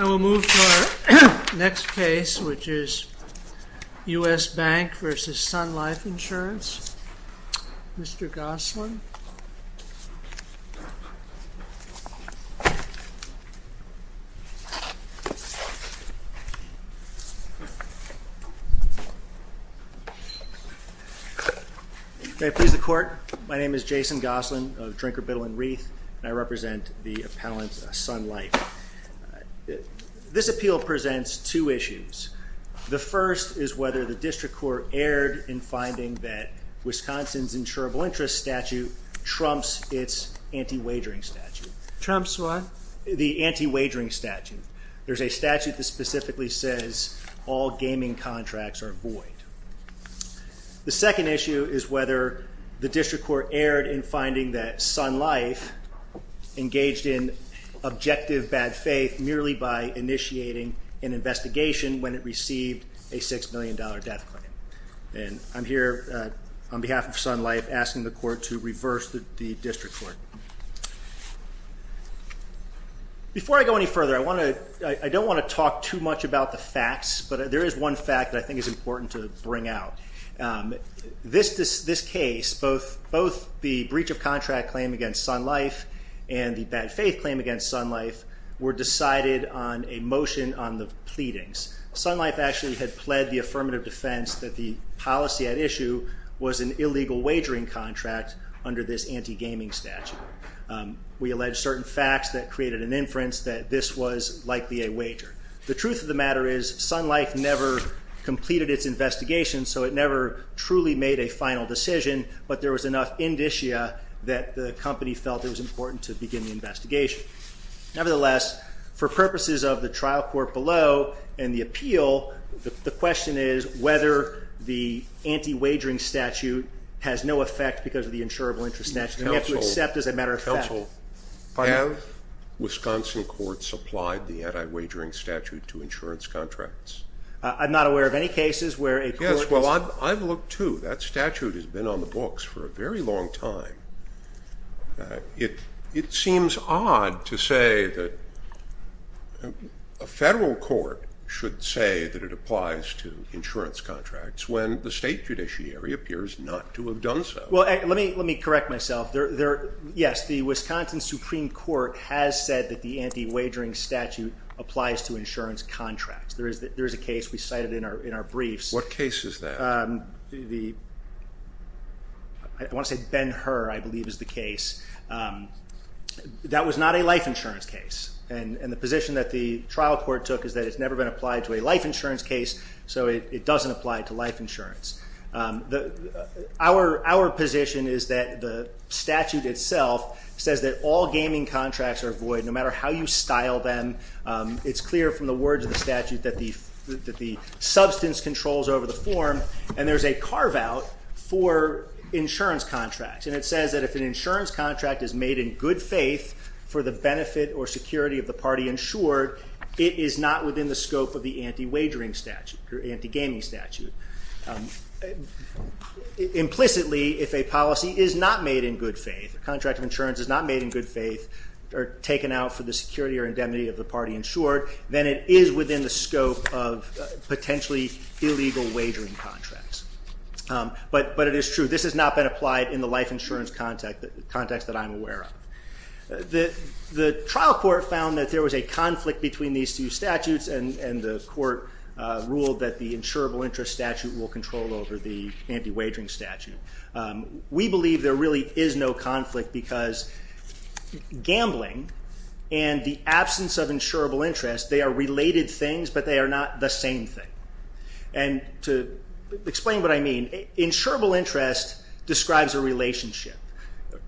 I will move to our next case, which is U.S. Bank v. Sun Life Insurance. Mr. Gosselin. May I please the Court? My name is Jason Gosselin of Drinker, Biddle & Wreath, and I represent the appellant Sun Life. This appeal presents two issues. The first is whether the district court erred in finding that Wisconsin's insurable interest statute trumps its anti-wagering statute. Trumps what? The anti-wagering statute. There's a statute that specifically says all gaming contracts are void. The second issue is whether the district court erred in finding that Sun Life engaged in objective bad faith merely by initiating an investigation when it received a $6 million death claim. I'm here on behalf of Sun Life asking the Court to reverse the district court. Before I go any further, I don't want to talk too much about the facts, but there is one fact that I think is important to bring out. This case, both the breach of contract claim against Sun Life and the bad faith claim against Sun Life were decided on a motion on the pleadings. Sun Life actually had pled the affirmative defense that the policy at issue was an illegal wagering contract under this anti-gaming statute. We allege certain facts that created an inference that this was likely a wager. The truth of the matter is Sun Life never completed its investigation, so it never truly made a final decision, but there was enough indicia that the company felt it was important to begin the investigation. Nevertheless, for purposes of the trial court below and the appeal, the question is whether the anti-wagering statute has no effect because of the insurable interest statute. We have to accept as a matter of fact. Have Wisconsin courts applied the anti-wagering statute to insurance contracts? I'm not aware of any cases where a court has. Yes, well I've looked too. That statute has been on the books for a very long time. It seems odd to say that a federal court should say that it applies to insurance contracts when the state judiciary appears not to have done so. Well, let me correct myself. Yes, the Wisconsin Supreme Court has said that the anti-wagering statute applies to insurance contracts. There is a case we cited in our briefs. What case is that? I want to say Ben Hur, I believe, is the case. That was not a life insurance case, and the position that the trial court took is that it's never been applied to a life insurance case, so it doesn't apply to life insurance. Our position is that the statute itself says that all gaming contracts are legal. It's clear from the words of the statute that the substance controls over the form, and there's a carve-out for insurance contracts, and it says that if an insurance contract is made in good faith for the benefit or security of the party insured, it is not within the scope of the anti-wagering statute or anti-gaming statute. Implicitly, if a policy is not made in good faith, a contract of insurance is not made in good faith or taken out for the security or indemnity of the party insured, then it is within the scope of potentially illegal wagering contracts. But it is true. This has not been applied in the life insurance context that I'm aware of. The trial court found that there was a conflict between these two statutes, and the court ruled that the insurable interest statute will control over the anti-wagering statute. We believe there really is no conflict because gambling and the absence of insurable interest, they are related things, but they are not the same thing. And to explain what I mean, insurable interest describes a relationship,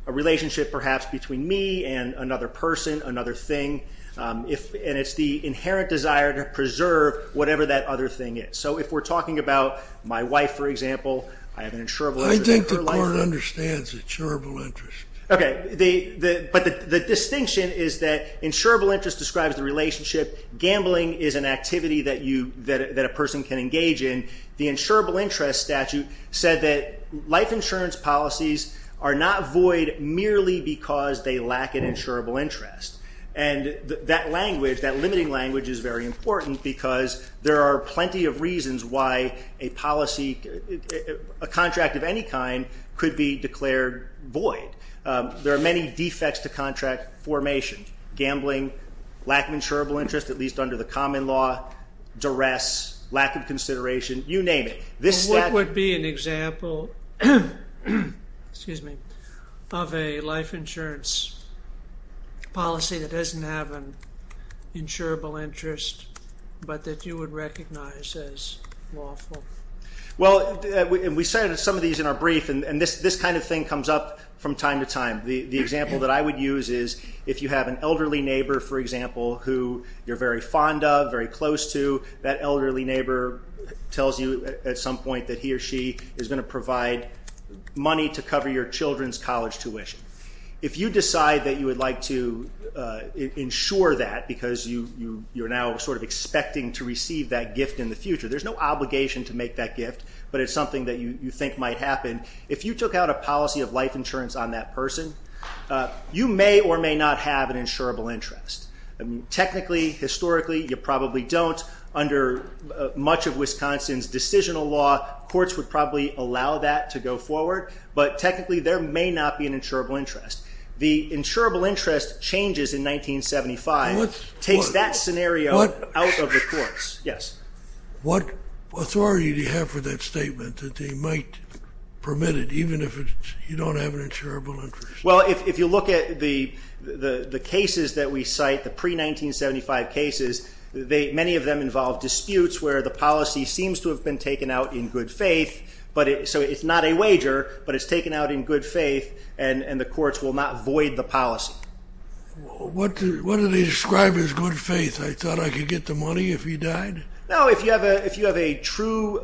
a relationship perhaps between me and another person, another thing, and it's the inherent desire to preserve whatever that other thing is. So if we're talking about my wife, for example, I have an insurable interest. I think the court understands the insurable interest. Okay, but the distinction is that insurable interest describes the relationship, gambling is an activity that a person can engage in. The insurable interest statute said that life insurance policies are not void merely because they lack an insurable interest. And that language, that limiting language is very important because there are plenty of reasons why a policy, a contract of any kind, could be declared void. There are many defects to contract formation. Gambling, lack of insurable interest, at least under the common law, duress, lack of consideration, you name it. And what would be an example, excuse me, of a life insurance policy that doesn't have an insurable interest, but that you would recognize as lawful? Well, and we use these in our brief, and this kind of thing comes up from time to time. The example that I would use is if you have an elderly neighbor, for example, who you're very fond of, very close to, that elderly neighbor tells you at some point that he or she is going to provide money to cover your children's college tuition. If you decide that you would like to insure that because you're now sort of expecting to receive that gift in the future, there's no obligation to make that gift, but it's something that you think might happen. If you took out a policy of life insurance on that person, you may or may not have an insurable interest. Technically, historically, you probably don't. Under much of Wisconsin's decisional law, courts would probably allow that to go forward, but technically there may not be an insurable interest. The insurable interest changes in 1975. It takes that scenario out of the courts. What authority do you have for that statement that they might permit it even if you don't have an insurable interest? Well, if you look at the cases that we cite, the pre-1975 cases, many of them involve disputes where the policy seems to have been taken out in good faith, so it's not a wager, but it's taken out in good faith, and the courts will not void the policy. What do they describe as good faith? I thought I could get the money if he died? No, if you have a true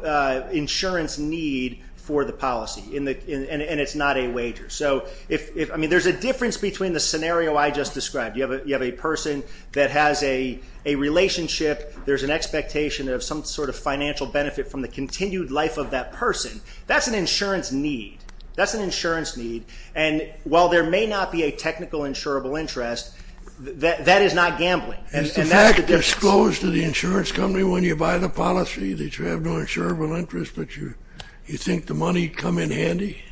insurance need for the policy, and it's not a wager. There's a difference between the scenario I just described. You have a person that has a relationship. There's an expectation of some sort of financial benefit from the continued life of that person. That's an insurance need, and while there may not be a technical insurable interest, that is not gambling. Is the fact disclosed to the insurance company when you buy the policy that you have no insurable interest, but you think the money would come in handy?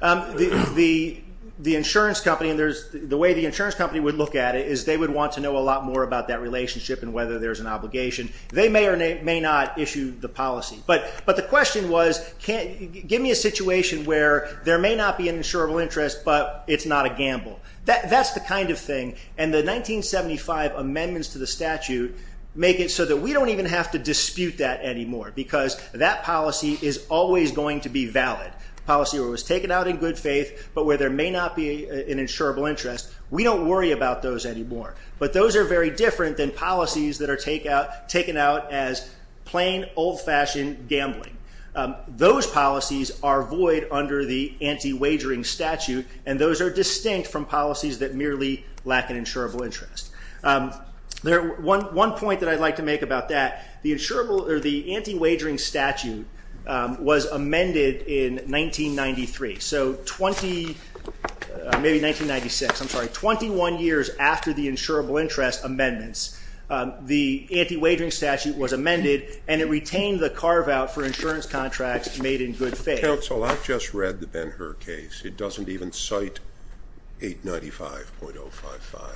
The way the insurance company would look at it is they would want to know a lot more about that relationship and whether there's an obligation. They may or may not issue the policy. The question was, give me a situation where there may not be an insurable interest, but it's not a gamble. That's the kind of thing, and the 1975 amendments to the statute make it so that we don't even have to dispute that anymore, because that policy is always going to be valid, a policy that was taken out in good faith, but where there may not be an insurable interest. We don't worry about those anymore, but those are very different than policies that are taken out as plain, old-fashioned gambling. Those policies are void under the anti-wagering statute, and those are distinct from policies that merely lack an insurable interest. One point that I'd like to make about that, the anti-wagering statute was amended in 1993, so 20, maybe 1996, I'm sorry, 21 years after the insurable interest amendments. The anti-wagering statute was amended, and it retained the carve-out for insurance contracts made in good faith. Counsel, I've just read the Ben-Hur case. It doesn't even cite 895.055.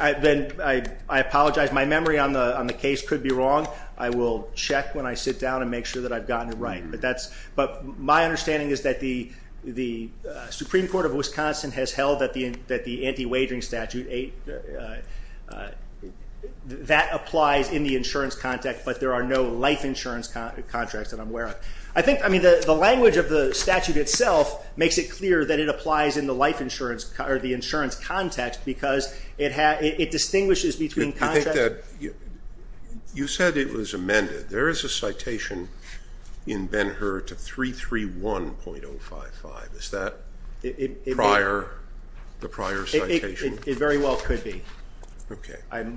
I apologize. My memory on the case could be wrong. I will check when I sit down and make sure that I've gotten it right, but my understanding is that the Supreme Court of Wisconsin has that applies in the insurance context, but there are no life insurance contracts that I'm aware of. I think the language of the statute itself makes it clear that it applies in the life insurance or the insurance context because it distinguishes between contracts. You said it was amended. There is a citation in Ben-Hur to 331.055. Is that the prior citation? It very well could be.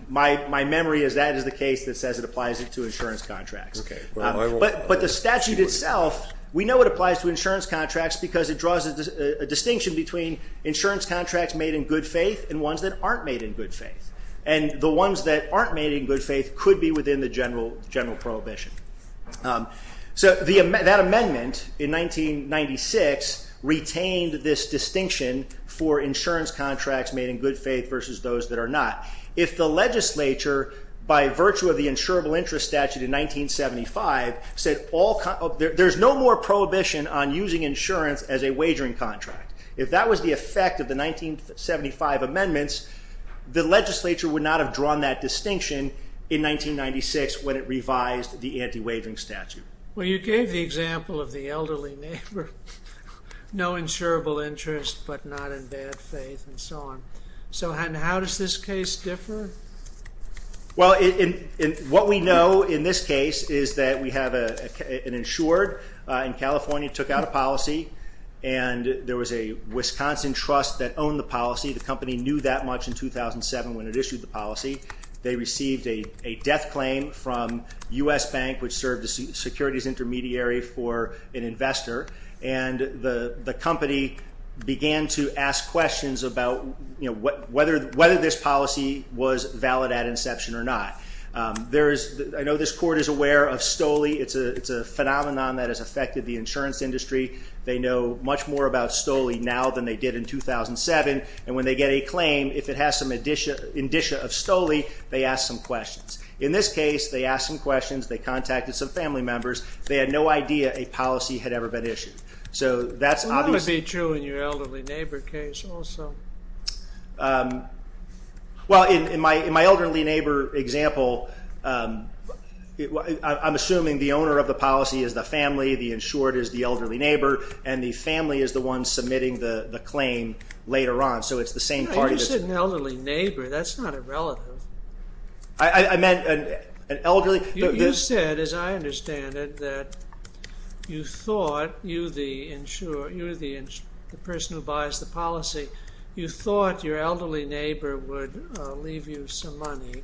My memory is that is the case that says it applies to insurance contracts, but the statute itself, we know it applies to insurance contracts because it draws a distinction between insurance contracts made in good faith and ones that aren't made in good faith, and the ones that aren't made in good faith could be within the general prohibition. That amendment in 1996 retained this distinction for insurance contracts made in good faith versus those that are not. If the legislature, by virtue of the insurable interest statute in 1975, said there's no more prohibition on using insurance as a wagering contract, if that was the effect of the 1975 amendments, the legislature would not have drawn that distinction in 1996 when it revised the anti-wagering statute. You gave the example of the elderly neighbor, no insurable interest but not in bad faith and so on. How does this case differ? What we know in this case is that we have an insured in California took out a policy and there was a Wisconsin trust that owned the policy. The company knew that much in 2007 when it issued the policy. They received a death claim from U.S. Bank, which served as securities intermediary for an investor, and the company began to ask questions about whether this policy was valid at inception or not. I know this court is aware of STOLE. It's a phenomenon that has affected the insurance industry. They know much more about STOLE now than they did in 2007, and when they get a claim, if it has some indicia of STOLE, they ask some questions. In this case, they asked some questions, they contacted some family members, they had no idea a policy had ever been issued. What would be true in your elderly neighbor case also? In my elderly neighbor example, I'm assuming the owner of the policy is the family, the insured is the elderly neighbor, and the family is the one submitting the claim later on. You said an elderly neighbor. That's not a relative. I meant an elderly... You said, as I understand it, that you thought you, the person who buys the policy, you thought your elderly neighbor would leave you some money,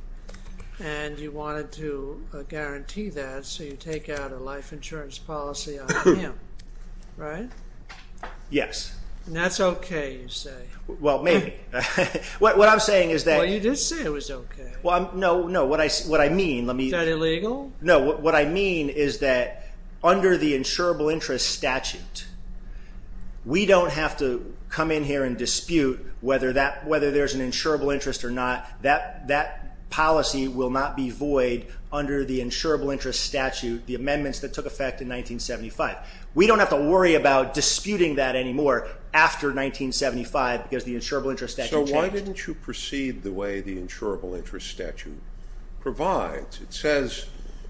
and you wanted to guarantee that, so you take out a life insurance policy on him, right? Yes. And that's okay, you say. Well, maybe. What I'm saying is that... Well, you did say it was okay. No, no, what I mean... Is that illegal? No, what I mean is that under the insurable interest statute, we don't have to come in here and dispute whether there's an insurable interest or not. That policy will not be void under the insurable interest statute, the amendments that took effect in 1975. We don't have to worry about disputing that anymore after 1975, because the insurable interest statute changed. So why didn't you proceed the way the insurable interest statute provides? It says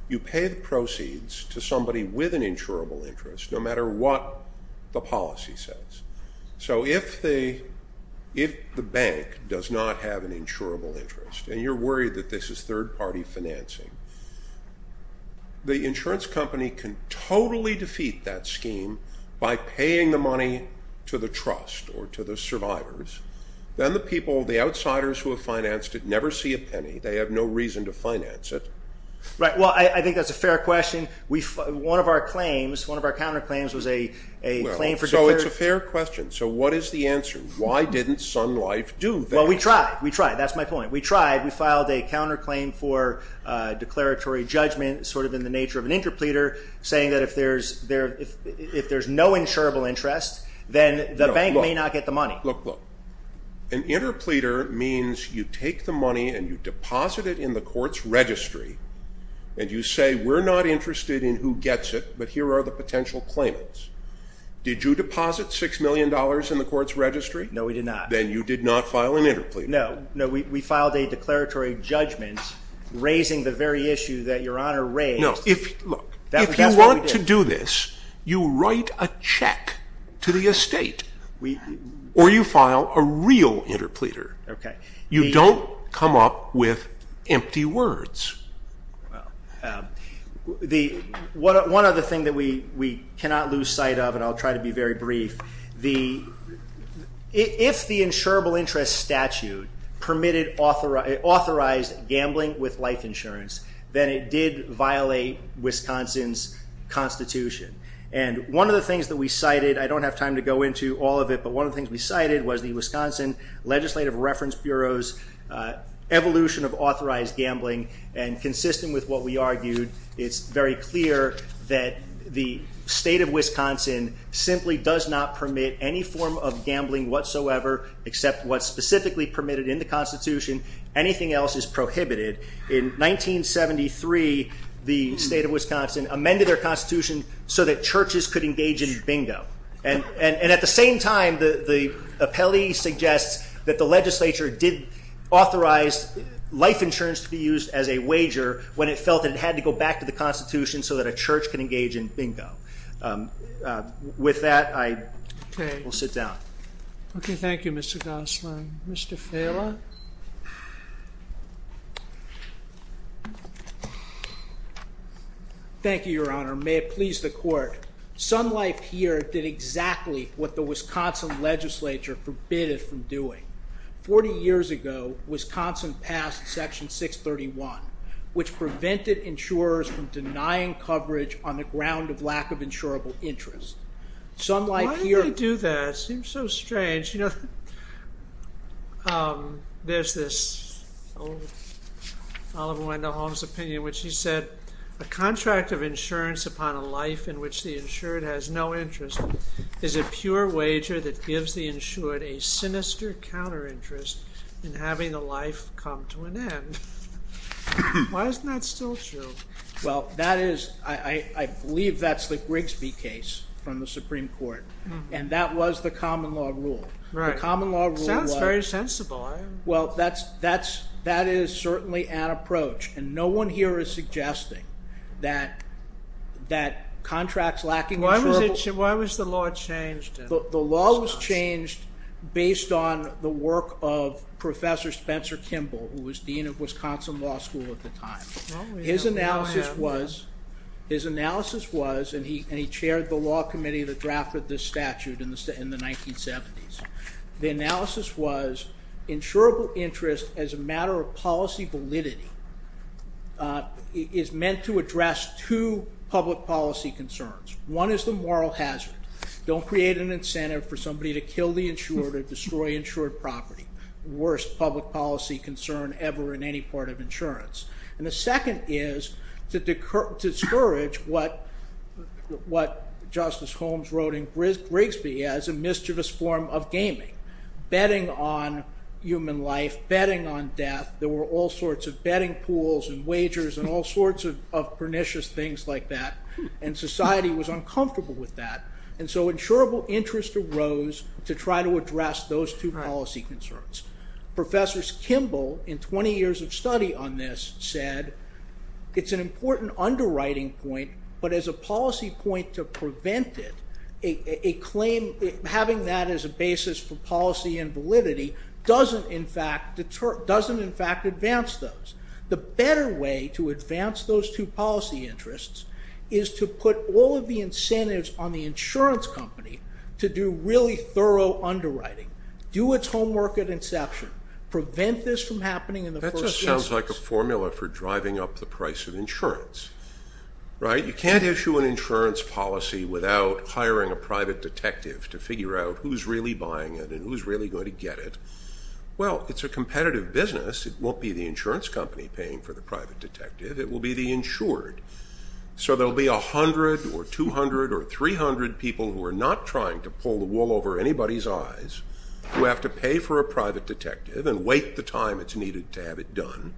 you pay the proceeds to somebody with an insurable interest, no matter what the policy says. So if the bank does not have an insurable interest, and you're worried that this is third-party financing, the insurance company can totally defeat that scheme by paying the money to the trust or to the survivors. Then the people, the outsiders who have financed it, never see a penny. They have no reason to finance it. Right, well, I think that's a fair question. One of our counterclaims was a claim for... Well, so it's a fair question. So what is the answer? Why didn't Sun Life do that? Well, we tried, we tried. That's my point. We tried. We filed a counterclaim for declaratory judgment, sort of in the nature of an interpleader, saying that if there's no insurable interest, then the bank may not get the money. Look, look. An interpleader means you take the money and you deposit it in the court's registry, and you say we're not interested in who gets it, but here are the potential claimants. Did you deposit $6 million in the court's registry? No, we did not. Then you did not file an interpleader. No, no, we filed a declaratory judgment raising the very issue that Your Honor raised. No, look, if you want to do this, you write a check to the estate, or you file a real interpleader. You don't come up with empty words. One other thing that we cannot lose sight of, and I'll try to be very brief, if the insurable interest statute permitted authorized gambling with life insurance, then it did violate Wisconsin's Constitution. And one of the things that we cited, I don't have time to go into all of it, but one of the things we cited was the Wisconsin Legislative Reference Bureau's evolution of authorized gambling, and consistent with what we argued, it's very clear that the state of Wisconsin simply does not permit any form of gambling whatsoever except what's specifically permitted in the Constitution. Anything else is prohibited. In 1973, the state of Wisconsin amended their Constitution so that churches could engage in bingo. And at the same time, the appellee suggests that the legislature did authorize life insurance to be used as a wager when it felt that it had to go back to the Constitution so that a church could engage in bingo. With that, I will sit down. Okay, thank you, Mr. Gosselin. Mr. Farrella? Thank you, Your Honor. May it please the Court. Sun Life here did exactly what the Wisconsin legislature forbid it from doing. Forty years ago, Wisconsin passed Section 631, which prevented insurers from denying coverage on the ground of lack of insurable interest. Sun Life here... Why did they do that? It seems so strange. You know, there's this old Oliver Wendell Holmes opinion in which he said, a contract of insurance upon a life in which the insured has no interest is a pure wager that gives the insured a sinister counter-interest in having the life come to an end. Why isn't that still true? Well, that is... I believe that's the Grigsby case from the Supreme Court, and that was the common law rule. The common law rule was... Sounds very sensible. Well, that is certainly an approach, and no one here is suggesting that contracts lacking insurable... Why was the law changed? The law was changed based on the work of Professor Spencer Kimball, who was dean of Wisconsin Law School at the time. His analysis was... His analysis was, and he chaired the law committee that drafted this statute in the 1970s, the analysis was, insurable interest as a matter of policy validity is meant to address two public policy concerns. One is the moral hazard. Don't create an incentive for somebody to kill the insured Worst public policy concern ever in any part of insurance. And the second is to discourage what Justice Holmes wrote in Grigsby as a mischievous form of gaming. Betting on human life, betting on death, there were all sorts of betting pools and wagers and all sorts of pernicious things like that, and society was uncomfortable with that, and so insurable interest arose to try to address those two policy concerns. Professors Kimball, in 20 years of study on this, said it's an important underwriting point, but as a policy point to prevent it, a claim, having that as a basis for policy and validity, doesn't in fact advance those. The better way to advance those two policy interests is to put all of the incentives on the insurance company to do really thorough underwriting. Do its homework at inception. Prevent this from happening in the first instance. That just sounds like a formula for driving up the price of insurance. You can't issue an insurance policy without hiring a private detective to figure out who's really buying it and who's really going to get it. Well, it's a competitive business. It won't be the insurance company paying for the private detective. It will be the insured. So there will be 100 or 200 or 300 people who are not trying to pull the wool over anybody's eyes, who have to pay for a private detective and wait the time it's needed to have it done,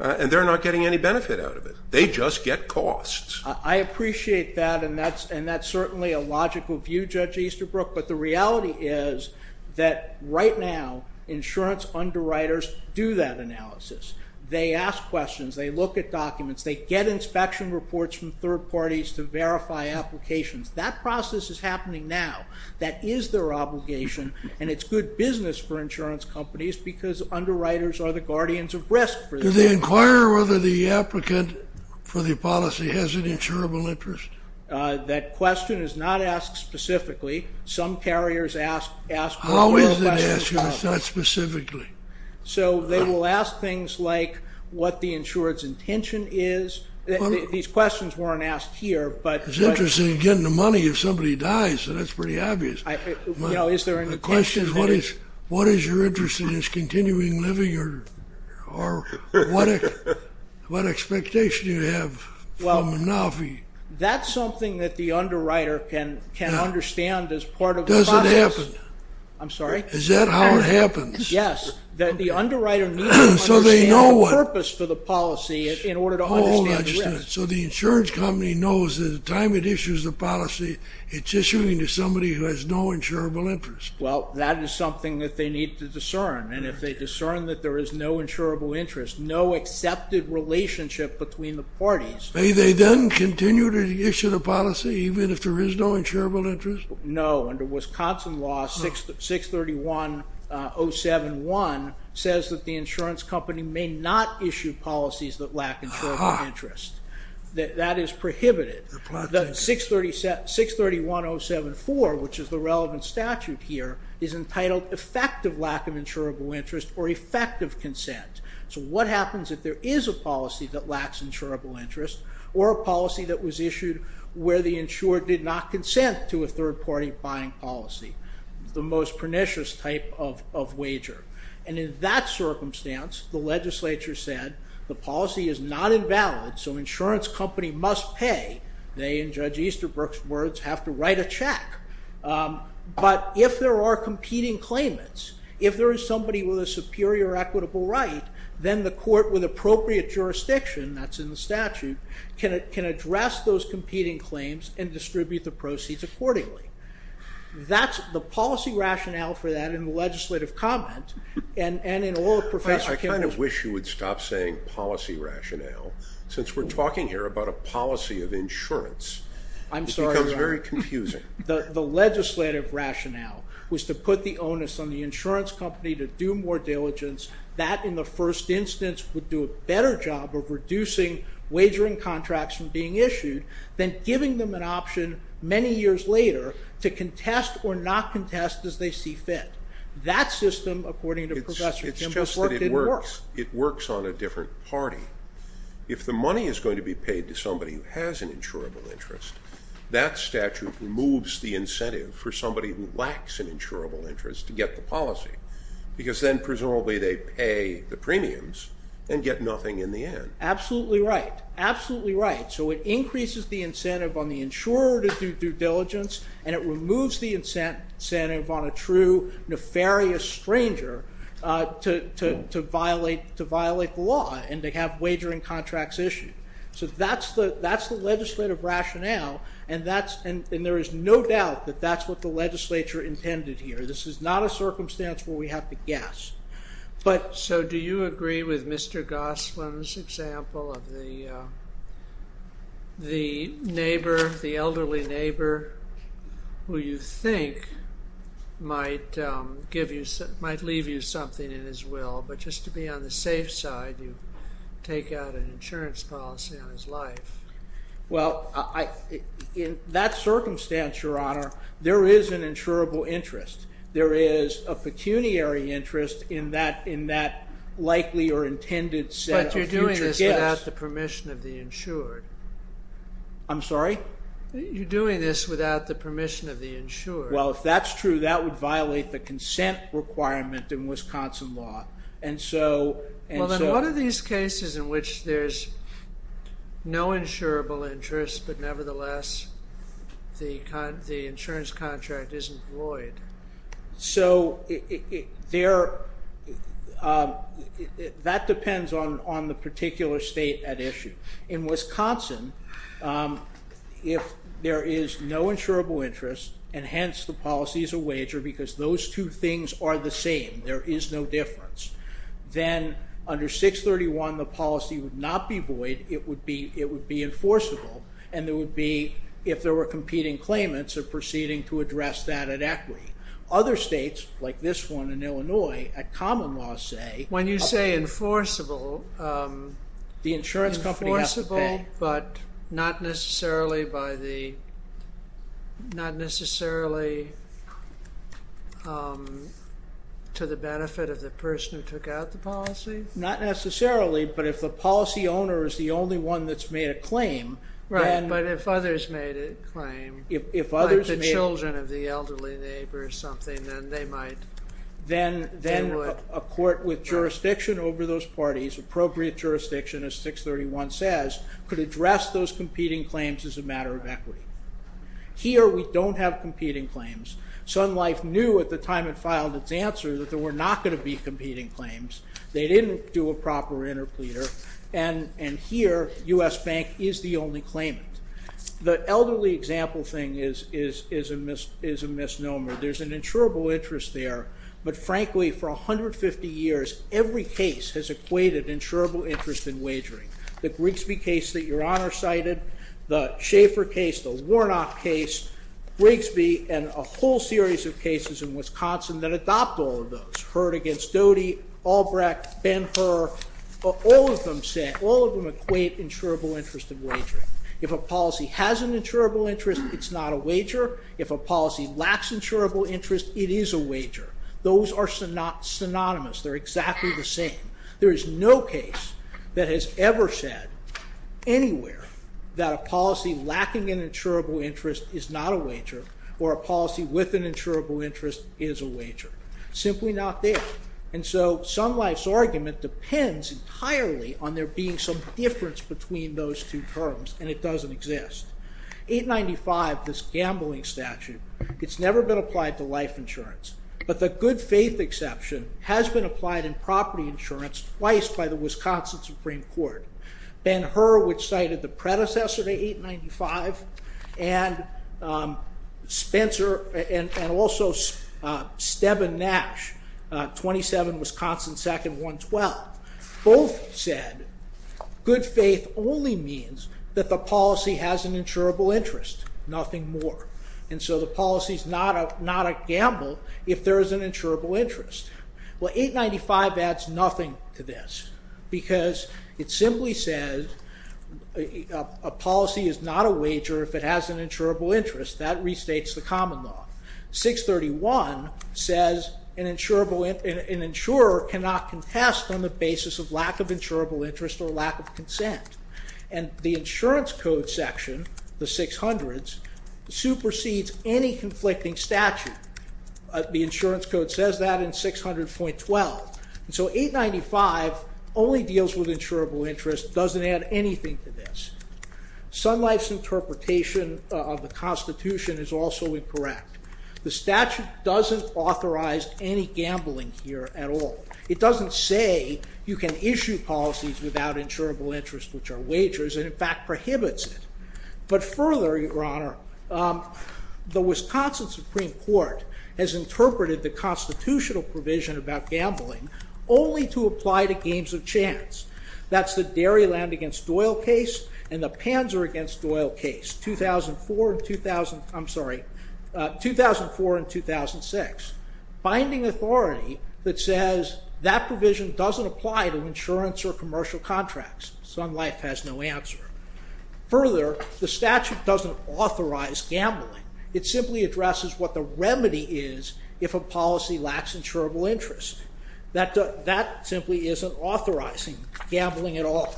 and they're not getting any benefit out of it. They just get costs. I appreciate that, and that's certainly a logical view, Judge Easterbrook, but the reality is that right now insurance underwriters do that analysis. They ask questions, they look at documents, they get inspection reports from third parties to verify applications. That process is happening now. That is their obligation, and it's good business for insurance companies because underwriters are the guardians of risk. Do they inquire whether the applicant for the policy has an insurable interest? That question is not asked specifically. Some carriers ask... How is it asked if it's not specifically? So they will ask things like what the insurer's intention is. These questions weren't asked here, but... I'm interested in getting the money if somebody dies, so that's pretty obvious. The question is what is your interest in his continuing living, or what expectation do you have from the NAFI? That's something that the underwriter can understand as part of the process. Does it happen? Is that how it happens? the purpose for the policy in order to understand the risk. So the insurance company knows that at the time it issues the policy, it's issuing to somebody who has no insurable interest. Well, that is something that they need to discern, and if they discern that there is no insurable interest, no accepted relationship between the parties... May they then continue to issue the policy even if there is no insurable interest? No. Under Wisconsin law 631-071 says that the insurance company may not issue policies that lack insurable interest. That is prohibited. 631-074, which is the relevant statute here, is entitled effective lack of insurable interest or effective consent. So what happens if there is a policy that lacks insurable interest, or a policy that was issued where the insurer did not consent to a third-party buying policy? The most pernicious type of wager. And in that circumstance, the legislature said the policy is not invalid, so insurance company must pay. They, in Judge Easterbrook's words, have to write a check. But if there are competing claimants, if there is somebody with a superior equitable right, then the court with appropriate jurisdiction, that's in the statute, can address those competing claims and distribute the proceeds accordingly. The policy rationale for that in the legislative comment, and in all of Professor Kimball's... I kind of wish you would stop saying policy rationale, since we're talking here about a policy of insurance. It becomes very confusing. The legislative rationale was to put the onus on the insurance company to do more diligence. That, in the first instance, would do a better job of reducing wagering contracts from being issued than giving them an option many years later to contest or not contest as they see fit. That system, according to Professor Kimball... It's just that it works. It works on a different party. If the money is going to be paid to somebody who has an insurable interest, that statute removes the incentive for somebody who lacks an insurable interest to get the policy, because then presumably they pay the premiums Absolutely right. Absolutely right. So it increases the incentive on the insurer to do due diligence, and it removes the incentive on a true, nefarious stranger to violate the law and to have wagering contracts issued. So that's the legislative rationale, and there is no doubt that that's what the legislature intended here. This is not a circumstance where we have to guess. So do you agree with Mr. Goslin's example of the neighbor, the elderly neighbor, who you think might leave you something in his will, but just to be on the safe side, you take out an insurance policy on his life? Well, in that circumstance, Your Honor, there is an insurable interest. There is a pecuniary interest in that likely or intended set of future guests. But you're doing this without the permission of the insured. I'm sorry? You're doing this without the permission of the insured. Well, if that's true, that would violate the consent requirement in Wisconsin law. Well, then what are these cases in which there's no insurable interest, but nevertheless the insurance contract isn't void? So that depends on the particular state at issue. In Wisconsin, if there is no insurable interest, and hence the policy is a wager because those two things are the same, there is no difference, then under 631 the policy would not be void, it would be enforceable, and it would be, if there were competing claimants, a proceeding to address that at equity. Other states, like this one in Illinois, at common law say... When you say enforceable... The insurance company has to pay. ...enforceable, but not necessarily by the... not necessarily to the benefit of the person who took out the policy? Not necessarily, but if the policy owner is the only one that's made a claim, then... Right, but if others made a claim... Like the children of the elderly neighbor or something, then they might... Then a court with jurisdiction over those parties, appropriate jurisdiction, as 631 says, could address those competing claims as a matter of equity. Here we don't have competing claims. Sun Life knew at the time it filed its answer that there were not going to be competing claims. They didn't do a proper interpleader, and here U.S. Bank is the only claimant. The elderly example thing is a misnomer. There's an insurable interest there, but frankly, for 150 years, every case has equated insurable interest in wagering. The Grigsby case that Your Honor cited, the Schaeffer case, the Warnock case, Grigsby, and a whole series of cases in Wisconsin that adopt all of those. Heard against Doty, Albrecht, Ben-Hur, all of them equate insurable interest in wagering If a policy has an insurable interest, it's not a wager. If a policy lacks insurable interest, it is a wager. Those are synonymous. They're exactly the same. There is no case that has ever said anywhere that a policy lacking an insurable interest is not a wager or a policy with an insurable interest is a wager. Simply not there. And so Sun Life's argument depends entirely on there being some difference between those two terms, and it doesn't exist. 895, this gambling statute, it's never been applied to life insurance, but the good faith exception has been applied in property insurance twice by the Wisconsin Supreme Court. Ben-Hur, which cited the predecessor to 895, and Spencer, and also Stebbin Nash, 27, Wisconsin, 2nd, 112, both said good faith only means that the policy has an insurable interest, nothing more. And so the policy is not a gamble if there is an insurable interest. Well, 895 adds nothing to this because it simply says a policy is not a wager if it has an insurable interest. That restates the common law. 631 says an insurer cannot contest on the basis of lack of insurable interest or lack of consent. And the insurance code section, the 600s, supersedes any conflicting statute. The insurance code says that in 600.12. And so 895 only deals with insurable interest, doesn't add anything to this. Sun Life's interpretation of the Constitution is also incorrect. The statute doesn't authorize any gambling here at all. It doesn't say you can issue policies without insurable interest, which are wagers, and in fact prohibits it. But further, Your Honor, the Wisconsin Supreme Court has interpreted the constitutional provision about gambling only to apply to games of chance. That's the Dairyland against Doyle case and the Panzer against Doyle case, 2004 and 2006, finding authority that says that provision doesn't apply to insurance or commercial contracts. Sun Life has no answer. Further, the statute doesn't authorize gambling. It simply addresses what the remedy is if a policy lacks insurable interest. That simply isn't authorizing gambling at all.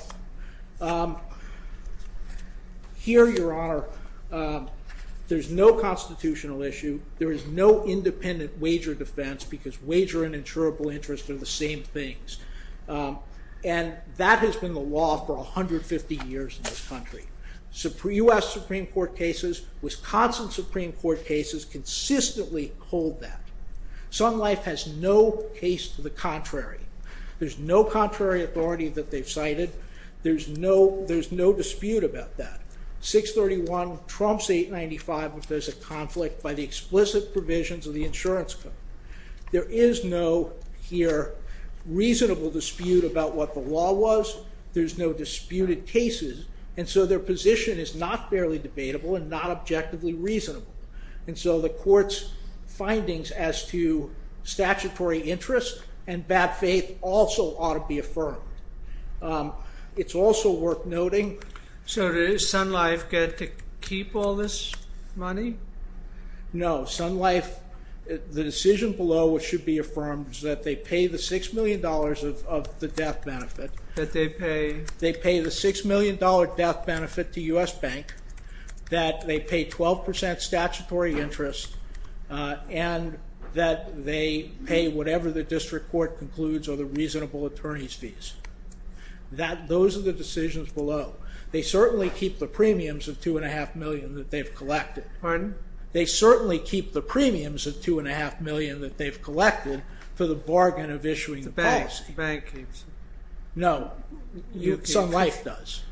Here, Your Honor, there's no constitutional issue. There is no independent wager defense, because wager and insurable interest are the same things. And that has been the law for 150 years in this country. US Supreme Court cases, Wisconsin Supreme Court cases, consistently hold that. Sun Life has no case to the contrary. There's no contrary authority that they've cited. There's no dispute about that. 631 trumps 895 if there's a conflict by the explicit provisions of the insurance code. There is no, here, reasonable dispute about what the law was. There's no disputed cases. And so their position is not fairly debatable and not objectively reasonable. And so the court's findings as to statutory interest and bad faith also ought to be affirmed. It's also worth noting. So does Sun Life get to keep all this money? No. Sun Life, the decision below which should be affirmed is that they pay the $6 million of the death benefit. That they pay? They pay the $6 million death benefit to US Bank, that they pay 12% statutory interest, and that they pay whatever the district court concludes are the reasonable attorney's fees. Those are the decisions below. They certainly keep the premiums of $2.5 million that they've collected. Pardon? They certainly keep the premiums of $2.5 million that they've collected for the bargain of issuing the policy. The bank keeps it. No. Sun Life does.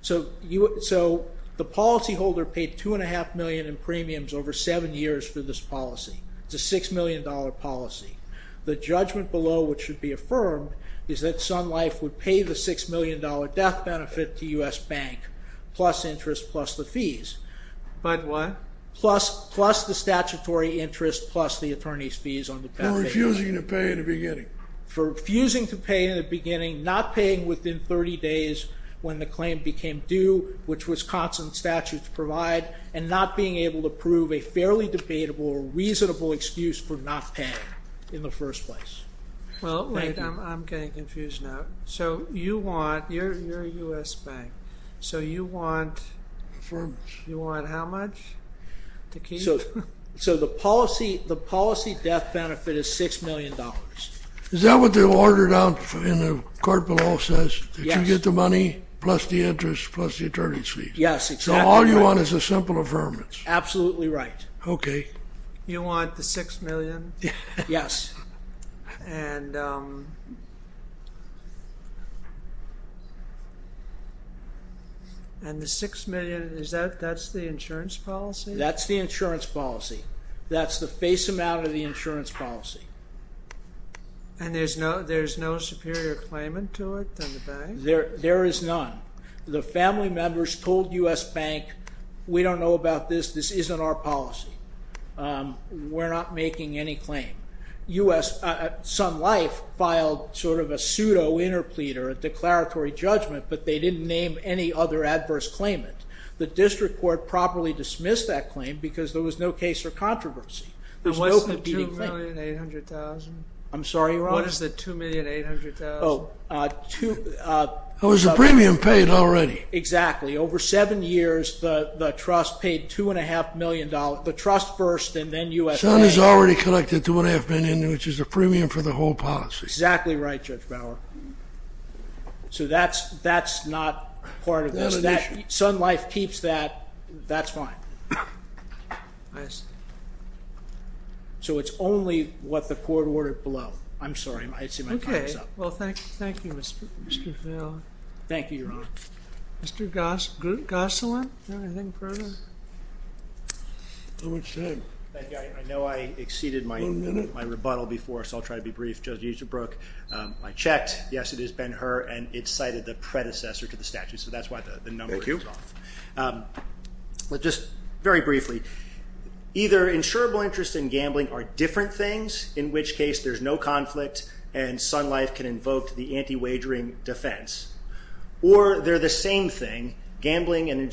So the policyholder paid $2.5 million in premiums over seven years for this policy. It's a $6 million policy. The judgment below which should be affirmed is that Sun Life would pay the $6 million death benefit to US Bank, plus interest, plus the fees. But what? Plus the statutory interest, plus the attorney's fees on the death benefit. For refusing to pay in the beginning. For refusing to pay in the beginning, not paying within 30 days when the claim became due, which was constant statute to provide, and not being able to prove a fairly debatable or reasonable excuse for not paying in the first place. Well, wait. I'm getting confused now. So you want, you're US Bank, so you want how much? So the policy death benefit is $6 million. Is that what the order down in the card below says? Yes. That you get the money, plus the interest, plus the attorney's fees? Yes, exactly. So all you want is a simple affirmance. Absolutely right. Okay. You want the $6 million? Yes. And the $6 million, that's the insurance policy? That's the insurance policy. That's the face amount of the insurance policy. And there's no superior claimant to it than the bank? There is none. The family members told US Bank, we don't know about this. This isn't our policy. We're not making any claim. Sun Life filed sort of a pseudo interpleader, a declaratory judgment, but they didn't name any other adverse claimant. The district court properly dismissed that claim because there was no case for controversy. There's no competing claim. And what's the $2,800,000? I'm sorry, Ron? What is the $2,800,000? It was the premium paid already. Exactly. Over seven years, the trust paid $2.5 million. The trust first and then USA. Sun has already collected $2.5 million, which is a premium for the whole policy. Exactly right, Judge Bauer. So that's not part of this. Sun Life keeps that. That's fine. I see. So it's only what the court ordered below. I'm sorry. Well, thank you. Thank you, Mr. Thank you, Your Honor. Mr. Gosselin. I know I exceeded my rebuttal before, so I'll try to be brief. Judge Easterbrook. I checked. Yes, it has been her and it cited the predecessor to the statute. So that's why the number is off. But just very briefly, either insurable interest in gambling are different things, in which case there's no conflict. And Sun Life can invoke the anti-wagering defense. Or they're the same thing. Gambling and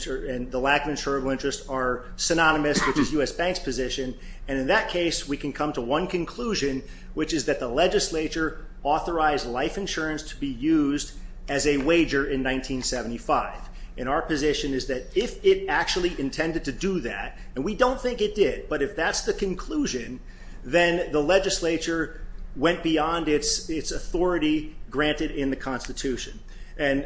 the lack of insurable interest are synonymous, which is U.S. Bank's position. And in that case, we can come to one conclusion, which is that the legislature authorized life insurance to be used as a wager in 1975. And our position is that if it actually intended to do that, and we don't think it did, but if that's the conclusion, then the legislature went beyond its authority granted in the Constitution. And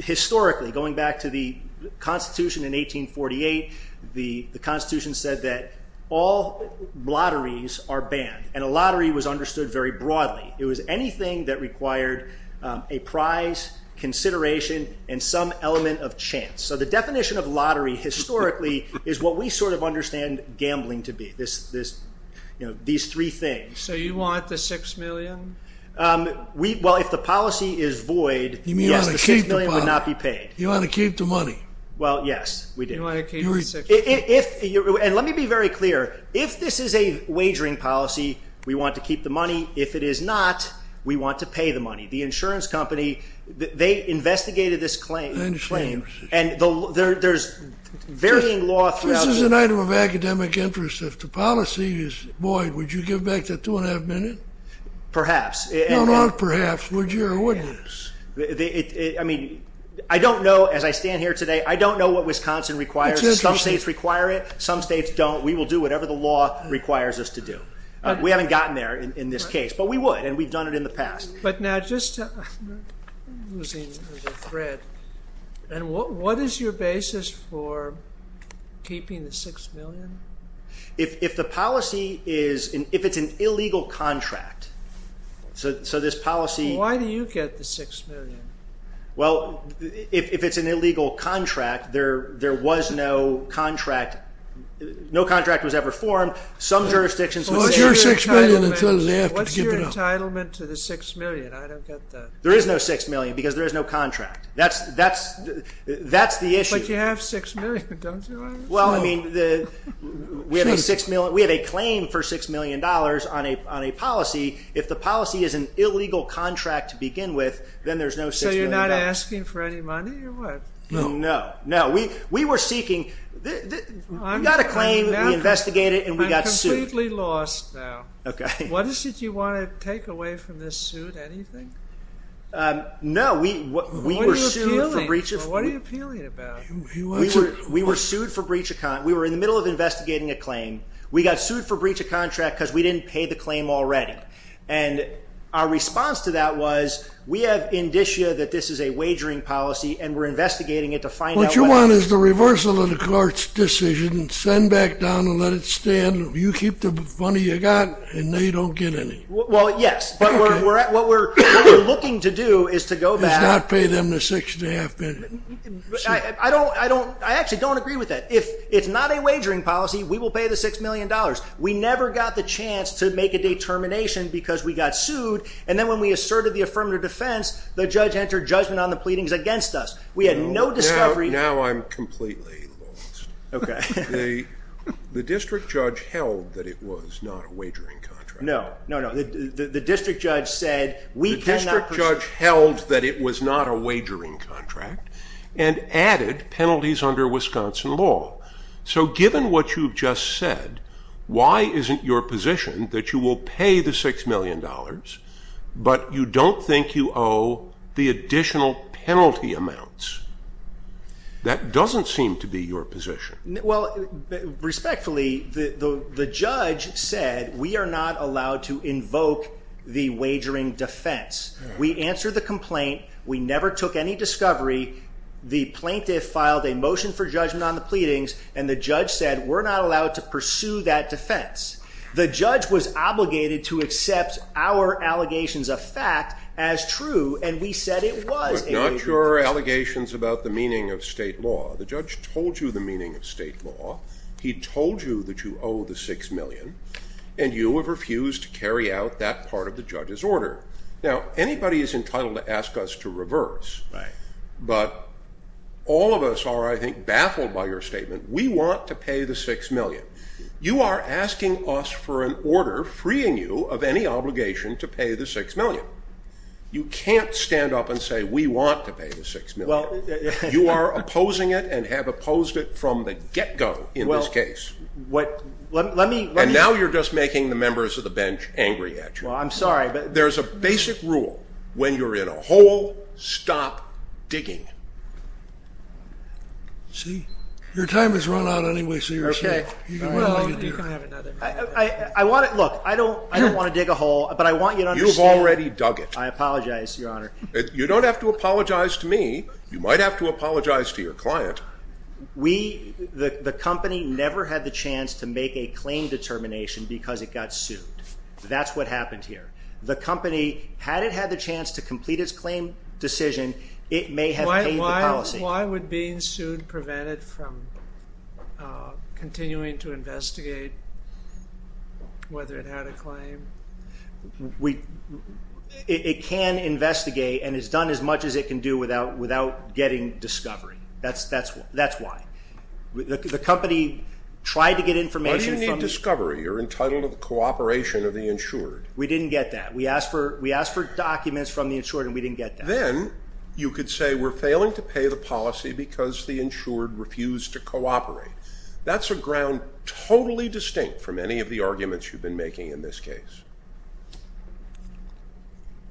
historically, going back to the Constitution in 1848, the Constitution said that all lotteries are banned. And a lottery was understood very broadly. It was anything that required a prize, consideration, and some element of chance. So the definition of lottery historically is what we sort of understand gambling to be, these three things. So you want the $6 million? Well, if the policy is void, yes, the $6 million would not be paid. You want to keep the money? Well, yes, we do. And let me be very clear. If this is a wagering policy, we want to keep the money. If it is not, we want to pay the money. The insurance company, they investigated this claim. And there's varying law throughout. This is an item of academic interest. If the policy is void, would you give back that two and a half minutes? Perhaps. No, not perhaps. Would you or wouldn't you? I mean, I don't know, as I stand here today, I don't know what Wisconsin requires. Some states require it, some states don't. We will do whatever the law requires us to do. We haven't gotten there in this case, but we would, and we've done it in the past. I'm losing the thread. What is your basis for keeping the $6 million? If the policy is, if it's an illegal contract, so this policy. Why do you get the $6 million? Well, if it's an illegal contract, there was no contract. No contract was ever formed. What's your entitlement to the $6 million? I don't get that. There is no $6 million because there is no contract. That's the issue. But you have $6 million, don't you? Well, I mean, we have a claim for $6 million on a policy. If the policy is an illegal contract to begin with, then there's no $6 million. So you're not asking for any money or what? No, no. We were seeking, we got a claim, we investigated it, and we got sued. I'm completely lost now. Okay. What is it you want to take away from this suit? Anything? No. What are you appealing about? We were sued for breach of contract. We were in the middle of investigating a claim. We got sued for breach of contract because we didn't pay the claim already. And our response to that was, we have indicia that this is a wagering policy, and we're investigating it to find out what it is. What you want is the reversal of the court's decision, send back down and let it stand. You keep the money you got, and no, you don't get any. Well, yes. But what we're looking to do is to go back. Is not pay them the $6.5 million. I actually don't agree with that. If it's not a wagering policy, we will pay the $6 million. We never got the chance to make a determination because we got sued, and then when we asserted the affirmative defense, the judge entered judgment on the pleadings against us. We had no discovery. Now I'm completely lost. Okay. The district judge held that it was not a wagering contract. No, no, no. The district judge said we cannot proceed. The district judge held that it was not a wagering contract and added penalties under Wisconsin law. So given what you've just said, why isn't your position that you will pay the $6 million, but you don't think you owe the additional penalty amounts? That doesn't seem to be your position. Well, respectfully, the judge said we are not allowed to invoke the wagering defense. We answered the complaint. We never took any discovery. The plaintiff filed a motion for judgment on the pleadings, and the judge said we're not allowed to pursue that defense. The judge was obligated to accept our allegations of fact as true, and we said it was a wagering contract. But not your allegations about the meaning of state law. The judge told you the meaning of state law. He told you that you owe the $6 million, and you have refused to carry out that part of the judge's order. Now, anybody is entitled to ask us to reverse, but all of us are, I think, baffled by your statement. We want to pay the $6 million. You are asking us for an order freeing you of any obligation to pay the $6 million. You are opposing it and have opposed it from the get-go in this case. And now you're just making the members of the bench angry at you. Well, I'm sorry. There's a basic rule when you're in a hole. Stop digging. See? Your time has run out anyway, so you're safe. You can have another. Look, I don't want to dig a hole, but I want you to understand. You've already dug it. I apologize, Your Honor. You don't have to apologize to me. You might have to apologize to your client. The company never had the chance to make a claim determination because it got sued. That's what happened here. The company, had it had the chance to complete its claim decision, it may have paid the policy. Why would being sued prevent it from continuing to investigate whether it had a claim? It can investigate and it's done as much as it can do without getting discovery. That's why. The company tried to get information. Why do you need discovery? You're entitled to the cooperation of the insured. We didn't get that. We asked for documents from the insured and we didn't get that. Then you could say we're failing to pay the policy because the insured refused to cooperate. That's a ground totally distinct from any of the arguments you've been making in this case.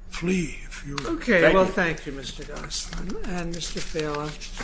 Flee, if you will. Okay. Well, thank you, Mr. Gosselin and Mr. Thaler.